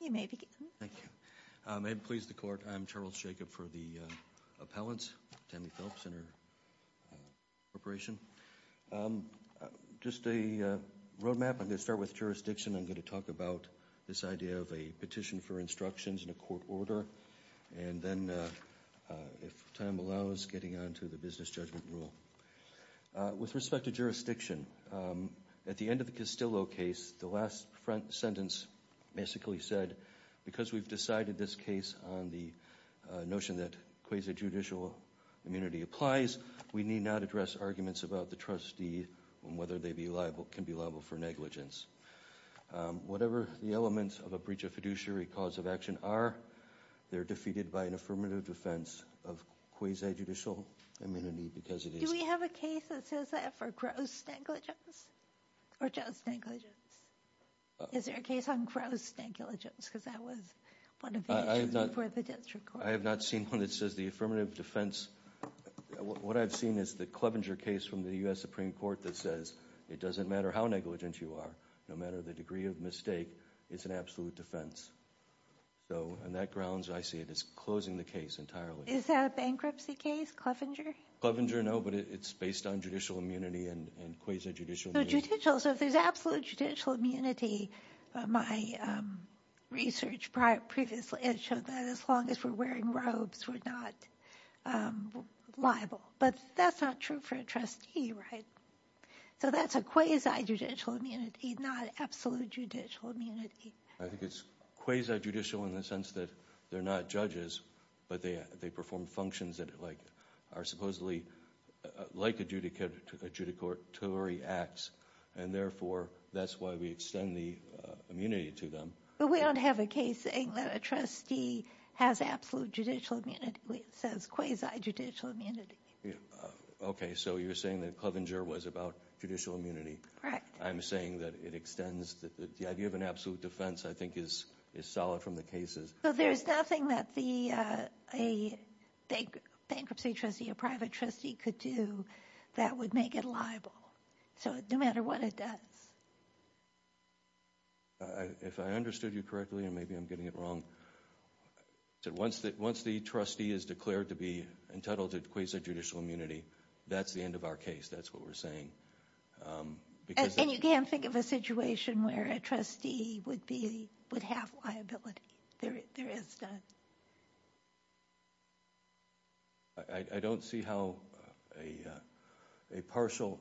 you may begin. Thank you. May it please the court. I'm Charles Jacob for the appellants. Tammy Phelps and her corporation. Just a road map. I'm going to start with jurisdiction. I'm going to talk about this idea of a petition for instructions in a court order. And then if time allows getting on to the business judgment rule. With respect to jurisdiction, at the end of the Castillo case, the last sentence basically said because we've decided this case on the notion that quasi-judicial immunity applies, we need not address arguments about the trustee and whether they can be liable for negligence. Whatever the elements of a breach of fiduciary cause of action are, they're defeated by an affirmative defense of quasi-judicial immunity because it is. Do we have a case that says that for gross negligence or just negligence? Is there a case on gross negligence because that was one of the issues before the district court? I have not seen one that says the affirmative defense. What I've seen is the Clevenger case from the U.S. Supreme Court that says, it doesn't matter how negligent you are, no matter the degree of mistake, it's an absolute defense. So on that grounds, I see it as closing the case entirely. Is that a bankruptcy case, Clevenger? Clevenger, no, but it's based on judicial immunity and quasi-judicial immunity. So if there's absolute judicial immunity, my research previously has shown that as long as we're wearing robes, we're not liable. But that's not true for a trustee, right? So that's a quasi-judicial immunity, not absolute judicial immunity. I think it's quasi-judicial in the sense that they're not judges, but they perform functions that are supposedly like adjudicatory acts. And therefore, that's why we extend the immunity to them. But we don't have a case saying that a trustee has absolute judicial immunity. It says quasi-judicial immunity. Okay, so you're saying that Clevenger was about judicial immunity. Correct. I'm saying that it extends, the idea of an absolute defense I think is solid from the cases. But there's nothing that a bankruptcy trustee, a private trustee could do that would make it liable. So no matter what it does. If I understood you correctly, and maybe I'm getting it wrong, once the trustee is declared to be entitled to quasi-judicial immunity, that's the end of our case. That's what we're saying. And you can't think of a situation where a trustee would have liability. There is none. I don't see how a partial,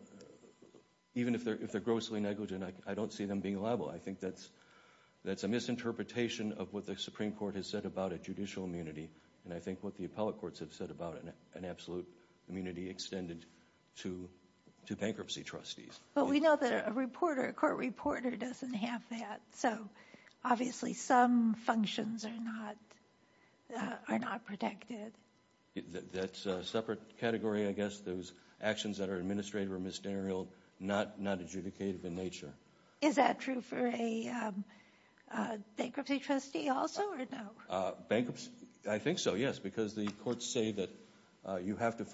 even if they're grossly negligent, I don't see them being liable. I think that's a misinterpretation of what the Supreme Court has said about a judicial immunity. And I think what the appellate courts have said about an absolute immunity extended to bankruptcy trustees. But we know that a reporter, a court reporter doesn't have that. So obviously some functions are not protected. That's a separate category, I guess. Those actions that are administrative or misderialed, not adjudicative in nature. Is that true for a bankruptcy trustee also, or no? Bankruptcy, I think so, yes. Because the courts say that you have to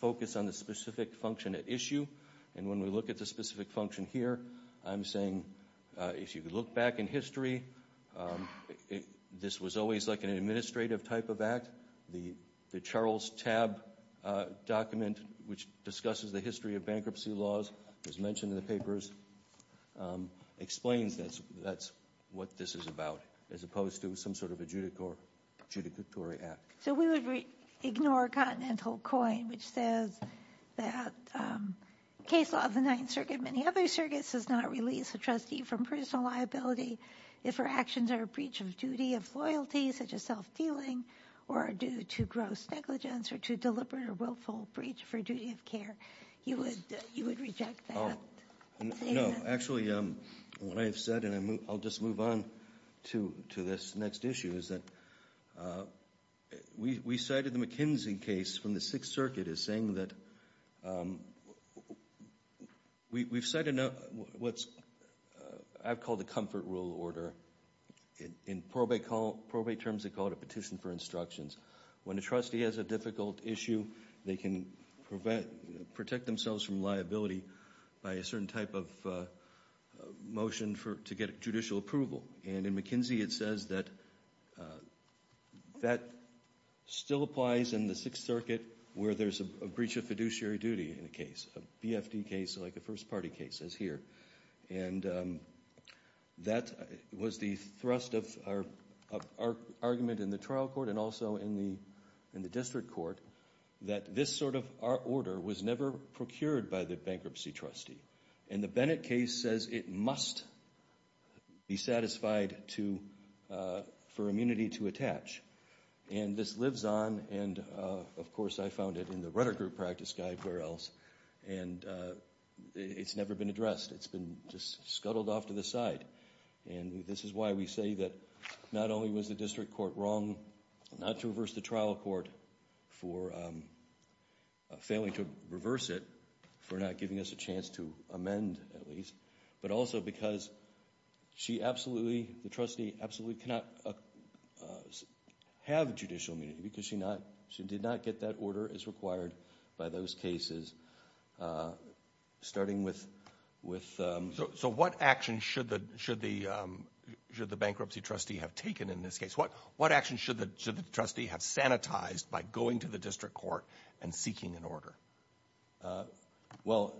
focus on the specific function at issue. And when we look at the specific function here, I'm saying if you look back in history, this was always like an administrative type of act. The Charles Tabb document, which discusses the history of bankruptcy laws, as mentioned in the papers, explains that's what this is about, as opposed to some sort of adjudicatory act. So we would ignore Continental Coin, which says that case law of the Ninth Circuit, many other circuits, does not release a trustee from personal liability if her actions are a breach of duty of loyalty, such as self-dealing, or are due to gross negligence, or to deliberate or willful breach for duty of care. You would reject that? No, actually, what I've said, and I'll just move on to this next issue, is that we cited the McKinsey case from the Sixth Circuit as saying that we've cited what I've called a comfort rule order. In probate terms, they call it a petition for instructions. When a trustee has a difficult issue, they can protect themselves from liability by a certain type of motion to get judicial approval. And in McKinsey, it says that that still applies in the Sixth Circuit where there's a breach of fiduciary duty in a case, a BFD case, like a first party case, as here. And that was the thrust of our argument in the trial court and also in the district court, that this sort of order was never procured by the bankruptcy trustee. And the Bennett case says it must be satisfied for immunity to attach. And this lives on, and of course I found it in the rudder group practice guide, where else. And it's never been addressed, it's been just scuttled off to the side. And this is why we say that not only was the district court wrong not to reverse the trial court for failing to reverse it for not giving us a chance to amend at least. But also because she absolutely, the trustee absolutely cannot have judicial immunity because she not, she did not get that order as required by those cases, starting with- So what action should the bankruptcy trustee have taken in this case? What action should the trustee have sanitized by going to the district court and seeking an order? Well,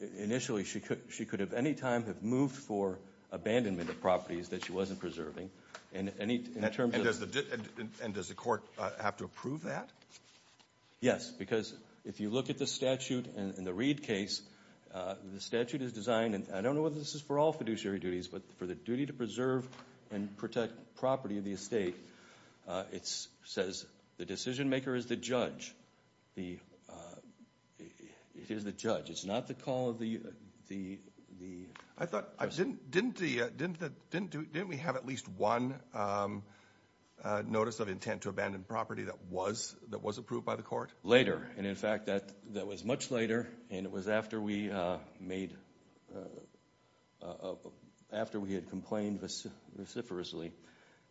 initially she could have any time have moved for abandonment of properties that she wasn't preserving, and in terms of- And does the court have to approve that? Yes, because if you look at the statute in the Reed case, the statute is designed, and I don't know whether this is for all fiduciary duties, but for the duty to preserve and protect property of the estate. It says the decision maker is the judge, it is the judge. It's not the call of the- I thought, didn't we have at least one notice of intent to abandon property that was approved by the court? Later, and in fact, that was much later, and it was after we made, after we had complained reciprocally.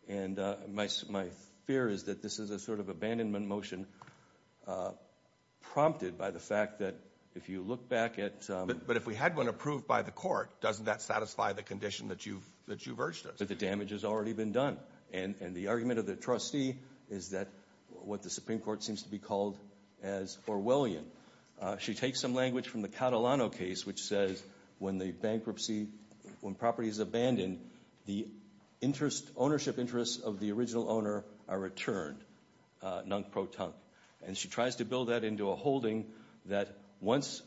And my fear is that this is a sort of abandonment motion prompted by the fact that if you look back at- But if we had one approved by the court, doesn't that satisfy the condition that you've urged us? That the damage has already been done, and the argument of the trustee is that what the Supreme Court seems to be called as Orwellian. She takes some language from the Catalano case, which says when the bankruptcy, when property is abandoned, the ownership interests of the original owner are returned, non-pro-tunk. And she tries to build that into a holding that once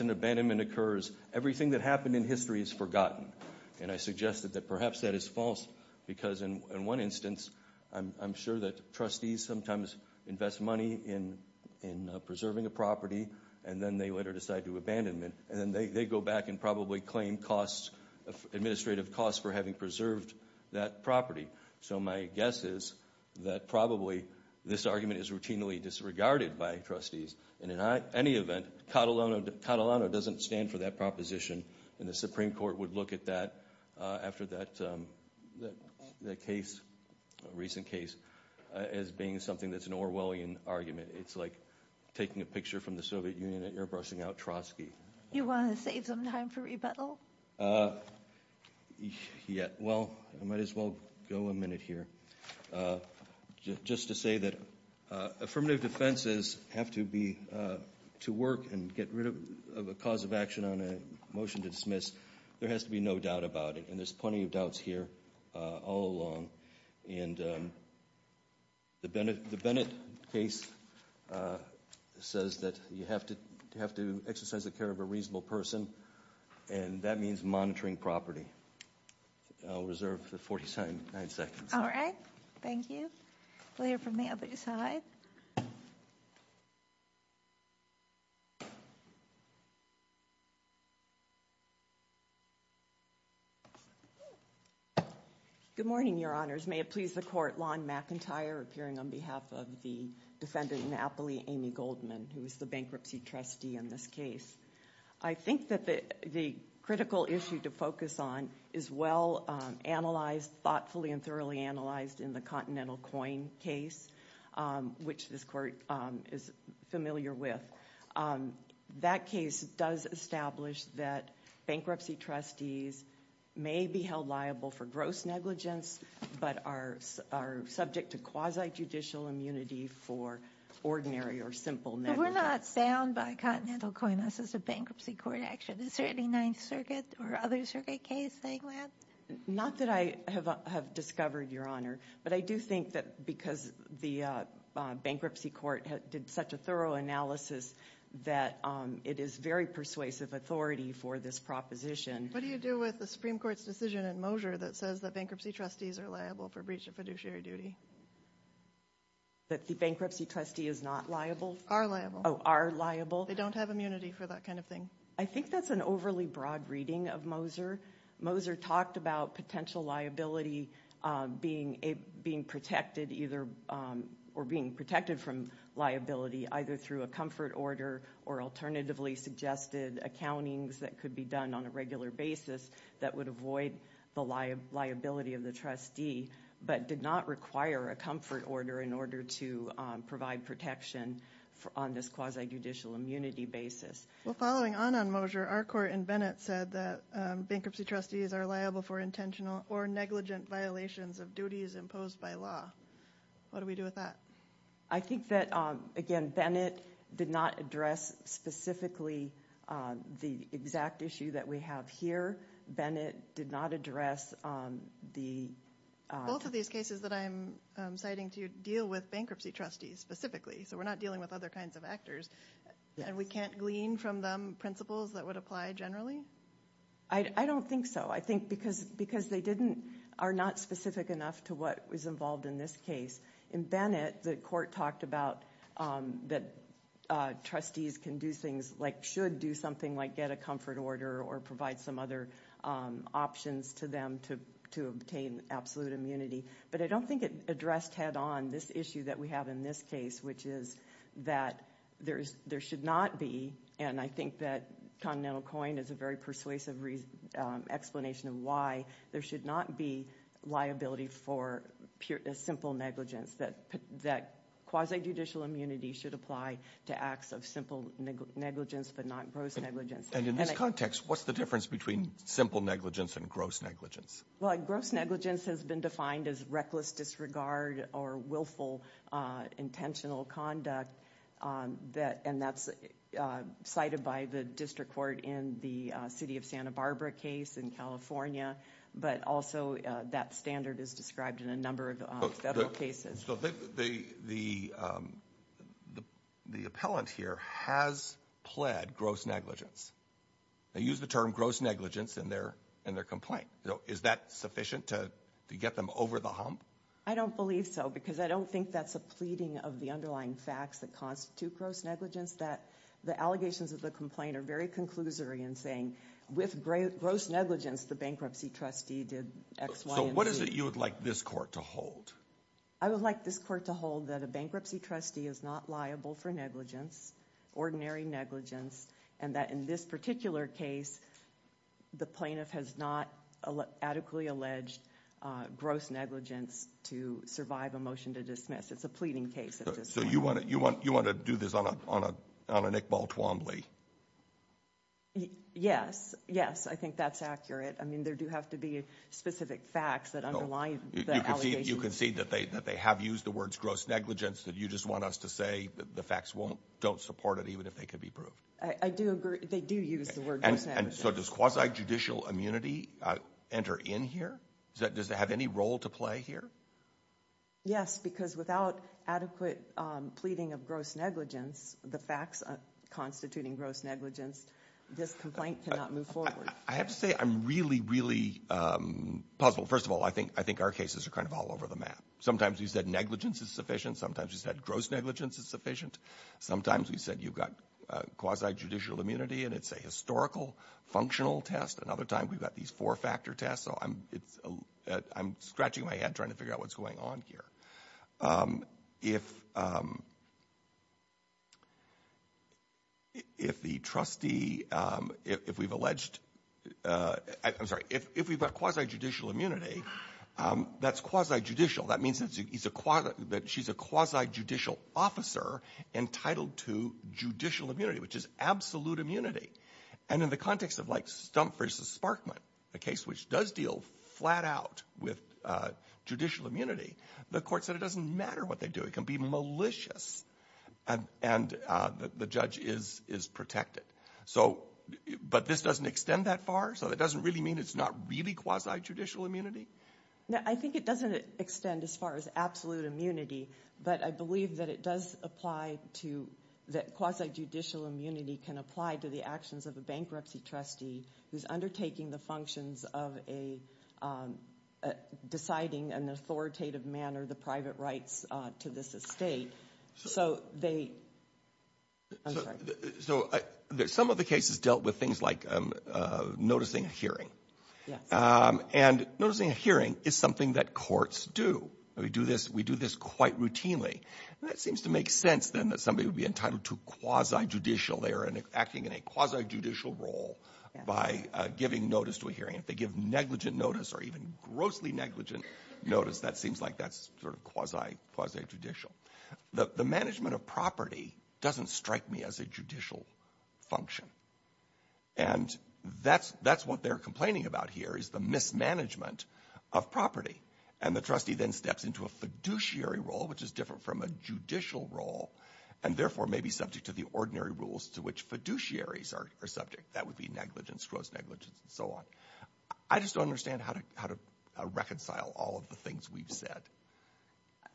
an abandonment occurs, everything that happened in history is forgotten. And I suggest that perhaps that is false, because in one instance, I'm sure that trustees sometimes invest money in preserving a property, and then they later decide to abandon it. And then they go back and probably claim administrative costs for having preserved that property. So my guess is that probably this argument is routinely disregarded by trustees. And in any event, Catalano doesn't stand for that proposition. And the Supreme Court would look at that after that recent case as being something that's an Orwellian argument. It's like taking a picture from the Soviet Union and airbrushing out Trotsky. You want to save some time for rebuttal? Yeah, well, I might as well go a minute here. Just to say that affirmative defenses have to be, to work and get rid of a cause of action on a motion to dismiss, there has to be no doubt about it. And there's plenty of doubts here all along. And the Bennett case says that you have to exercise the care of a reasonable person. And that means monitoring property. I'll reserve the 49 seconds. All right, thank you. We'll hear from the other side. Good morning, your honors. May it please the court. Lon McIntyre, appearing on behalf of the defendant Napoli, Amy Goldman, who is the bankruptcy trustee in this case. I think that the critical issue to focus on is well analyzed, thoughtfully and thoroughly analyzed in the Continental Coin case, which this court is familiar with. That case does establish that bankruptcy trustees may be held liable for gross negligence, but are subject to quasi-judicial immunity for ordinary or simple negligence. We're not bound by Continental Coin, this is a bankruptcy court action. Is there any Ninth Circuit or other circuit case saying that? Not that I have discovered, your honor. But I do think that because the bankruptcy court did such a thorough analysis that it is very persuasive authority for this proposition. What do you do with the Supreme Court's decision in Mosier that says that bankruptcy trustees are liable for breach of fiduciary duty? That the bankruptcy trustee is not liable? Are liable. Are liable? They don't have immunity for that kind of thing. I think that's an overly broad reading of Mosier. Mosier talked about potential liability being protected either, or being protected from liability either through a comfort order or alternatively suggested accountings that could be done on a regular basis that would avoid the liability of the trustee. But did not require a comfort order in order to provide protection on this quasi-judicial immunity basis. Well, following on on Mosier, our court in Bennett said that bankruptcy trustees are liable for intentional or negligent violations of duties imposed by law. What do we do with that? I think that, again, Bennett did not address specifically the exact issue that we have here. Bennett did not address the- Both of these cases that I'm citing to you deal with bankruptcy trustees specifically. So we're not dealing with other kinds of actors. And we can't glean from them principles that would apply generally? I don't think so. I think because they didn't, are not specific enough to what was involved in this case. In Bennett, the court talked about that trustees can do things like, should do something like get a comfort order or provide some other options to them to obtain absolute immunity. But I don't think it addressed head on this issue that we have in this case, which is that there should not be. And I think that Continental Coin is a very persuasive explanation of why there should not be liability for simple negligence. That quasi-judicial immunity should apply to acts of simple negligence, but not gross negligence. And in this context, what's the difference between simple negligence and gross negligence? Well, gross negligence has been defined as reckless disregard or willful intentional conduct. And that's cited by the district court in the city of Santa Barbara case in California. But also that standard is described in a number of federal cases. So the appellant here has pled gross negligence. They use the term gross negligence in their complaint. Is that sufficient to get them over the hump? I don't believe so, because I don't think that's a pleading of the underlying facts that constitute gross negligence. That the allegations of the complaint are very conclusory in saying, with gross negligence, the bankruptcy trustee did X, Y, and Z. So what is it you would like this court to hold? I would like this court to hold that a bankruptcy trustee is not liable for negligence, ordinary negligence. And that in this particular case, the plaintiff has not adequately alleged gross negligence to survive a motion to dismiss. It's a pleading case at this point. So you want to do this on an Iqbal Twombly? Yes, yes, I think that's accurate. I mean, there do have to be specific facts that underline the allegations. You can see that they have used the words gross negligence, that you just want us to say the facts don't support it, even if they could be proved. I do agree, they do use the word gross negligence. And so does quasi-judicial immunity enter in here? Does it have any role to play here? Yes, because without adequate pleading of gross negligence, the facts constituting gross negligence, this complaint cannot move forward. I have to say, I'm really, really puzzled. First of all, I think our cases are kind of all over the map. Sometimes you said negligence is sufficient, sometimes you said gross negligence is sufficient. Sometimes you said you've got quasi-judicial immunity and it's a historical, functional test, and other times we've got these four factor tests. So I'm scratching my head trying to figure out what's going on here. If the trustee, if we've alleged, I'm sorry, if we've got quasi-judicial immunity, that's quasi-judicial. That means that she's a quasi-judicial officer entitled to judicial immunity, which is absolute immunity. And in the context of like Stump versus Sparkman, a case which does deal flat out with judicial immunity, the court said it doesn't matter what they do. It can be malicious and the judge is protected. So, but this doesn't extend that far? So it doesn't really mean it's not really quasi-judicial immunity? No, I think it doesn't extend as far as absolute immunity, but I believe that it does apply to, that quasi-judicial immunity can apply to the actions of a bankruptcy trustee who's undertaking the functions of a, deciding in an authoritative manner, the private rights to this estate. So they, I'm sorry. So some of the cases dealt with things like noticing a hearing. Yes. And noticing a hearing is something that courts do. We do this, we do this quite routinely. And that seems to make sense then that somebody would be entitled to quasi-judicial there and acting in a quasi-judicial role by giving notice to a hearing. If they give negligent notice or even grossly negligent notice, that seems like that's sort of quasi-judicial. The management of property doesn't strike me as a judicial function. And that's what they're complaining about here is the mismanagement of property. And the trustee then steps into a fiduciary role, which is different from a judicial role, and therefore may be subject to the ordinary rules to which fiduciaries are subject. That would be negligence, gross negligence, and so on. I just don't understand how to reconcile all of the things we've said.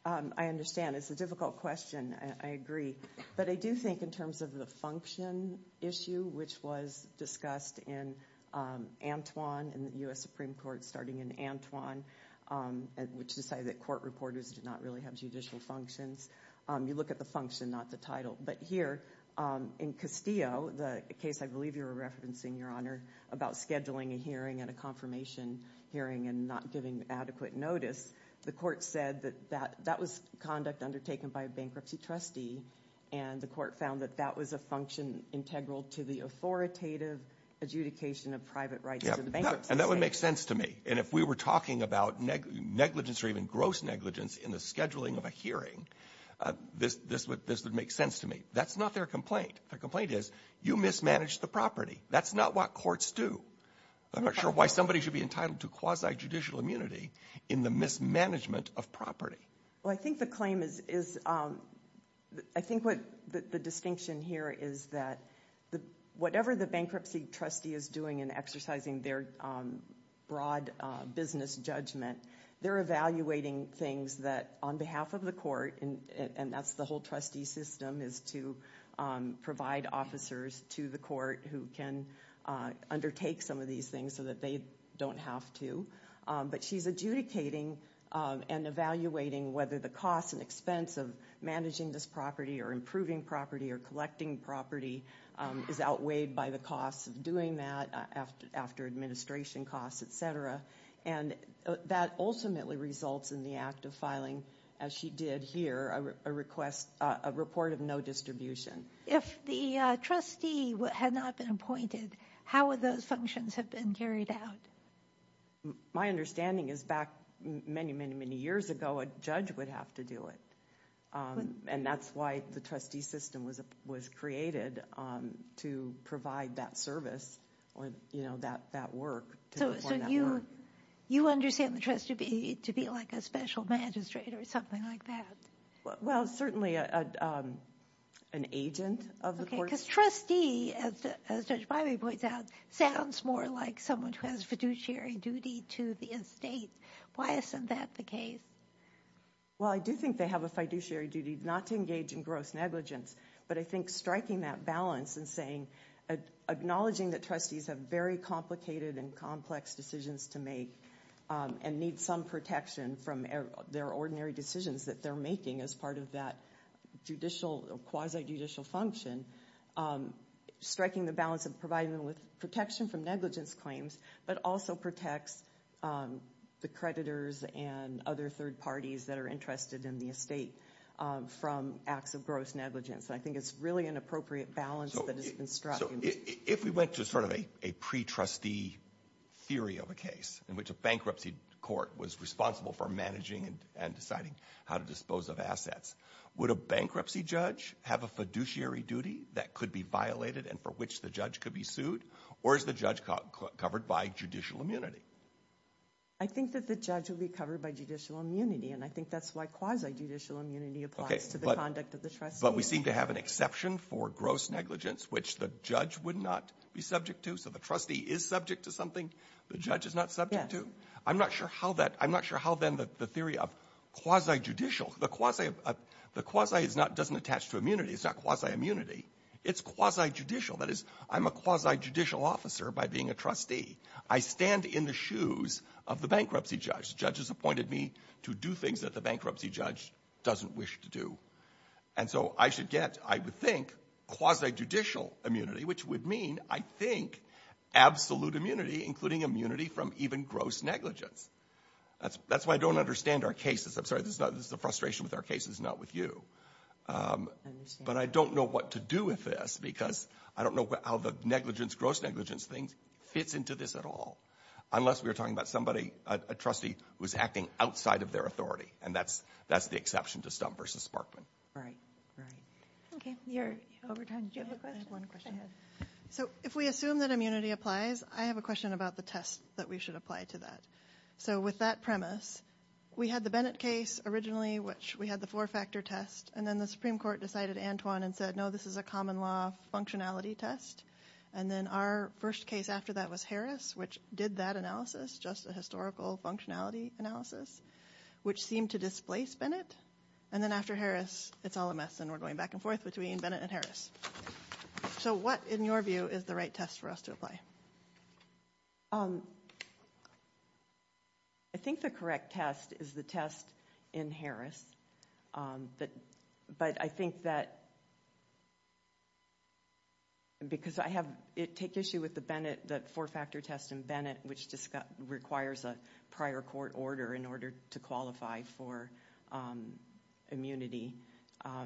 I understand. It's a difficult question. I agree. But I do think in terms of the function issue, which was discussed in Antwon in the U.S. Supreme Court starting in Antwon, which decided that court reporters did not really have judicial functions. You look at the function, not the title. But here in Castillo, the case I believe you were referencing, Your Honor, about scheduling a hearing at a confirmation hearing and not giving adequate notice, the court said that that was conduct undertaken by a bankruptcy trustee. And the court found that that was a function integral to the authoritative adjudication of private rights to the bank. And that would make sense to me. And if we were talking about negligence or even gross negligence in the scheduling of a hearing, this would make sense to me. That's not their complaint. Their complaint is, you mismanaged the property. That's not what courts do. I'm not sure why somebody should be entitled to quasi-judicial immunity in the mismanagement of property. Well, I think the claim is, I think what the distinction here is that whatever the bankruptcy trustee is doing in exercising their broad business judgment, they're evaluating things that on behalf of the court, and that's the whole trustee system, is to provide officers to the court who can undertake some of these things so that they don't have to. But she's adjudicating and evaluating whether the cost and expense of managing this property or improving property or collecting property is outweighed by the cost of doing that after administration costs, et cetera. And that ultimately results in the act of filing, as she did here, a request, a report of no distribution. If the trustee had not been appointed, how would those functions have been carried out? My understanding is back many, many, many years ago, a judge would have to do it. And that's why the trustee system was created to provide that service or, you know, that work. So you understand the trustee to be like a special magistrate or something like that? Well, certainly an agent of the court. Because trustee, as Judge Bybee points out, sounds more like someone who has a fiduciary duty to the estate. Why isn't that the case? Well, I do think they have a fiduciary duty not to engage in gross negligence. But I think striking that balance and saying, acknowledging that trustees have very complicated and complex decisions to make and need some protection from their ordinary decisions that they're making as part of that judicial, quasi-judicial function, striking the balance of providing them with protection from negligence claims, but also protects the creditors and other third parties that are interested in the estate from acts of gross negligence. And I think it's really an appropriate balance that has been struck. So if we went to sort of a pre-trustee theory of a case in which a bankruptcy court was responsible for managing and deciding how to dispose of assets, would a bankruptcy judge have a fiduciary duty that could be violated and for which the judge could be sued? Or is the judge covered by judicial immunity? I think that the judge would be covered by judicial immunity. And I think that's why quasi-judicial immunity applies to the conduct of the trustee. But we seem to have an exception for gross negligence, which the judge would not be subject to. So the trustee is subject to something the judge is not subject to. I'm not sure how then the theory of quasi-judicial, the quasi doesn't attach to immunity. It's not quasi-immunity. It's quasi-judicial. That is, I'm a quasi-judicial officer by being a trustee. I stand in the shoes of the bankruptcy judge. The judge has appointed me to do things that the bankruptcy judge doesn't wish to do. And so I should get, I would think, quasi-judicial immunity, which would mean, I think, absolute immunity, including immunity from even gross negligence. That's why I don't understand our cases. I'm sorry, this is a frustration with our cases, not with you. But I don't know what to do with this because I don't know how the negligence, gross negligence thing fits into this at all. Unless we're talking about somebody, a trustee who's acting outside of their authority. And that's the exception to Stump versus Sparkman. Right. Right. Okay. Over time, do you have a question? I have one question. So if we assume that immunity applies, I have a question about the test that we should apply to that. So with that premise, we had the Bennett case originally, which we had the four-factor test. And then the Supreme Court decided Antoine and said, no, this is a common law functionality test. And then our first case after that was Harris, which did that analysis, just a historical functionality analysis, which seemed to displace Bennett. And then after Harris, it's all a mess and we're going back and forth between Bennett and Harris. So what, in your view, is the right test for us to apply? I think the correct test is the test in Harris. But I think that because I have, it take issue with the Bennett, the four-factor test in Bennett, which requires a prior court order in order to qualify for immunity.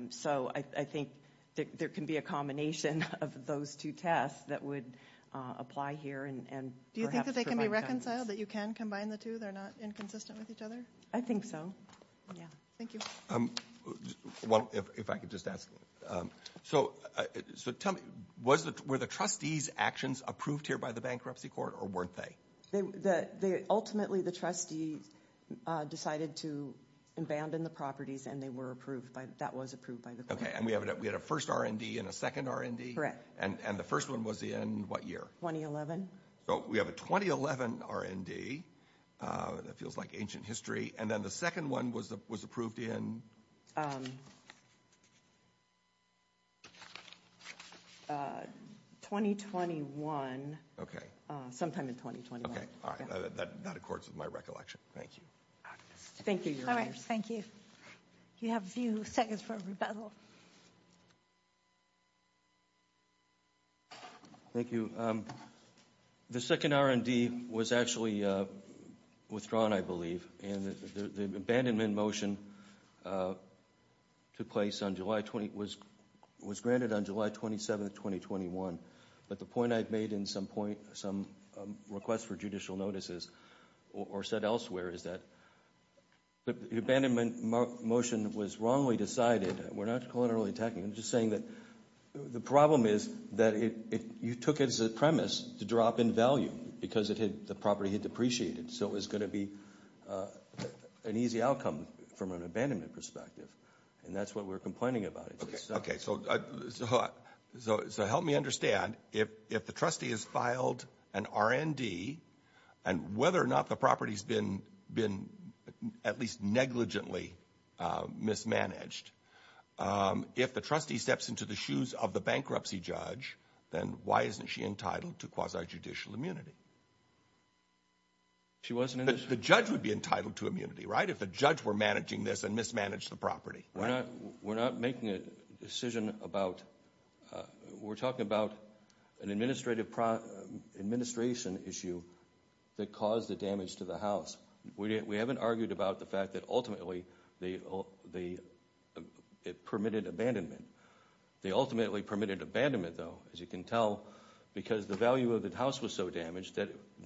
So I think there can be a combination of those two tests that would apply here and perhaps. Do you think that they can be reconciled, that you can combine the two? They're not inconsistent with each other? I think so. Yeah. Thank you. Well, if I could just ask. So tell me, were the trustees' actions approved here by the bankruptcy court or weren't they? They, ultimately, the trustees decided to abandon the properties and they were approved by, that was approved by the court. Okay. And we have, we had a first RND and a second RND? Correct. And the first one was in what year? 2011. So we have a 2011 RND, that feels like ancient history. And then the second one was approved in? 2021. Okay. Sometime in 2021. That accords with my recollection. Thank you. Thank you. Thank you. You have a few seconds for rebuttal. Thank you. The second RND was actually withdrawn, I believe. And the abandonment motion took place on July 20, was granted on July 27, 2021. But the point I've made in some request for judicial notices, or said elsewhere, is that the abandonment motion was wrongly decided. We're not collaterally attacking. I'm just saying that the problem is that you took it as a premise to drop in value because the property had depreciated. So it was going to be an easy outcome from an abandonment perspective. And that's what we're complaining about. Okay, so help me understand, if the trustee has filed an RND, and whether or not the property's been at least negligently mismanaged, if the trustee steps into the shoes of the bankruptcy judge, then why isn't she entitled to quasi-judicial immunity? The judge would be entitled to immunity, right? If the judge were managing this and mismanaged the property. We're not making a decision about... We're talking about an administration issue that caused the damage to the house. We haven't argued about the fact that ultimately it permitted abandonment. They ultimately permitted abandonment, though, as you can tell, because the value of the house was so damaged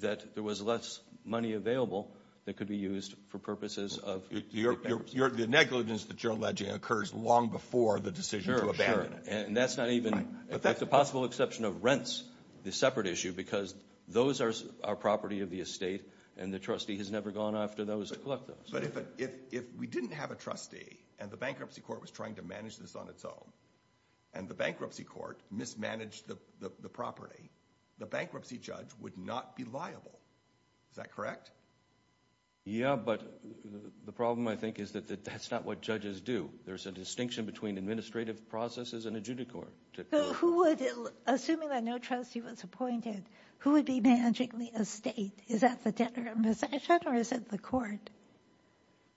that there was less money available that could be used for purposes of... The negligence that you're alleging occurs long before the decision to abandon it. And that's not even... It's a possible exception of rents, the separate issue, because those are property of the estate, and the trustee has never gone after those to collect those. But if we didn't have a trustee, and the bankruptcy court was trying to manage this on its own, and the bankruptcy court mismanaged the property, the bankruptcy judge would not be liable. Is that correct? Yeah, but the problem, I think, is that that's not what judges do. There's a distinction between administrative processes and a judicor. Assuming that no trustee was appointed, who would be managing the estate? Is that the debtor in possession, or is it the court?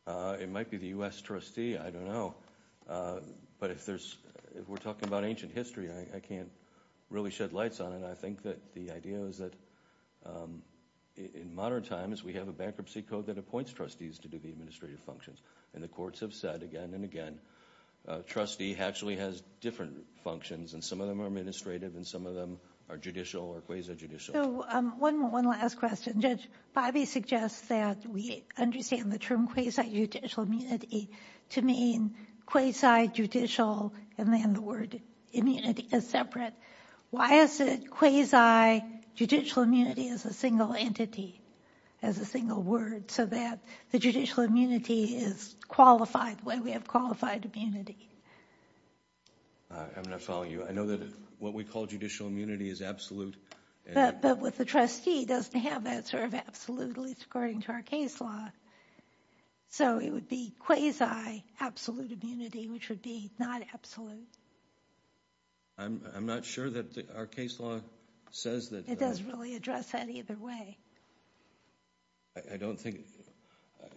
It might be the U.S. trustee. I don't know. But if we're talking about ancient history, I can't really shed lights on it. I think that the idea is that in modern times, we have a bankruptcy code that appoints trustees to do the administrative functions. And the courts have said again and again, trustee actually has different functions, and some of them are administrative, and some of them are judicial or quasi-judicial. So one last question. Judge, Bobby suggests that we understand the term quasi-judicial immunity to mean quasi-judicial, and then the word immunity is separate. Why is it quasi-judicial immunity as a single entity, as a single word, so that the judicial immunity is qualified the way we have qualified immunity? I'm not following you. I know that what we call judicial immunity is absolute. But with the trustee, it doesn't have that sort of absolute, at least according to our case law. So it would be quasi-absolute immunity, which would be not absolute. I'm not sure that our case law says that. It doesn't really address that either way. I don't think,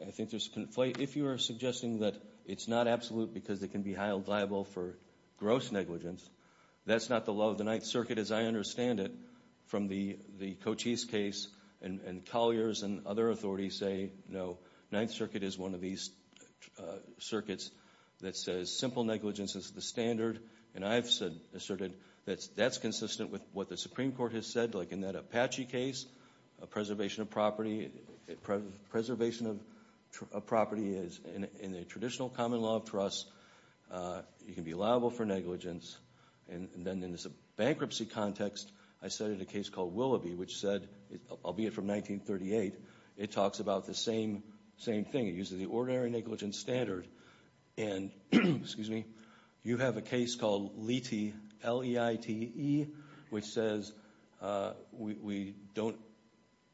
I think there's conflate. If you are suggesting that it's not absolute because it can be held liable for gross negligence, that's not the law of the Ninth Circuit as I understand it. From the Cochise case and Collier's and other authorities say, no, Ninth Circuit is one of these circuits that says simple negligence is the standard. And I've asserted that that's consistent with what the Supreme Court has said, like in that Apache case, a preservation of property is, in the traditional common law of trust, you can be liable for negligence. And then in this bankruptcy context, I cited a case called Willoughby, which said, albeit from 1938, it talks about the same thing. It uses the ordinary negligence standard. And, excuse me, you have a case called Leite, L-E-I-T-E, which says we don't,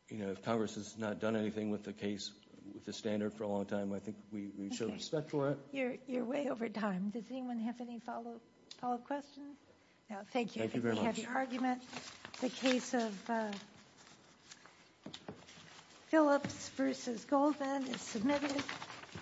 you know, if Congress has not done anything with the case, with the standard for a long time, I think we show respect for it. Okay, you're way over time. Does anyone have any follow-up questions? No, thank you. Thank you very much. We have your argument. The case of Phillips v. Goldman is submitted.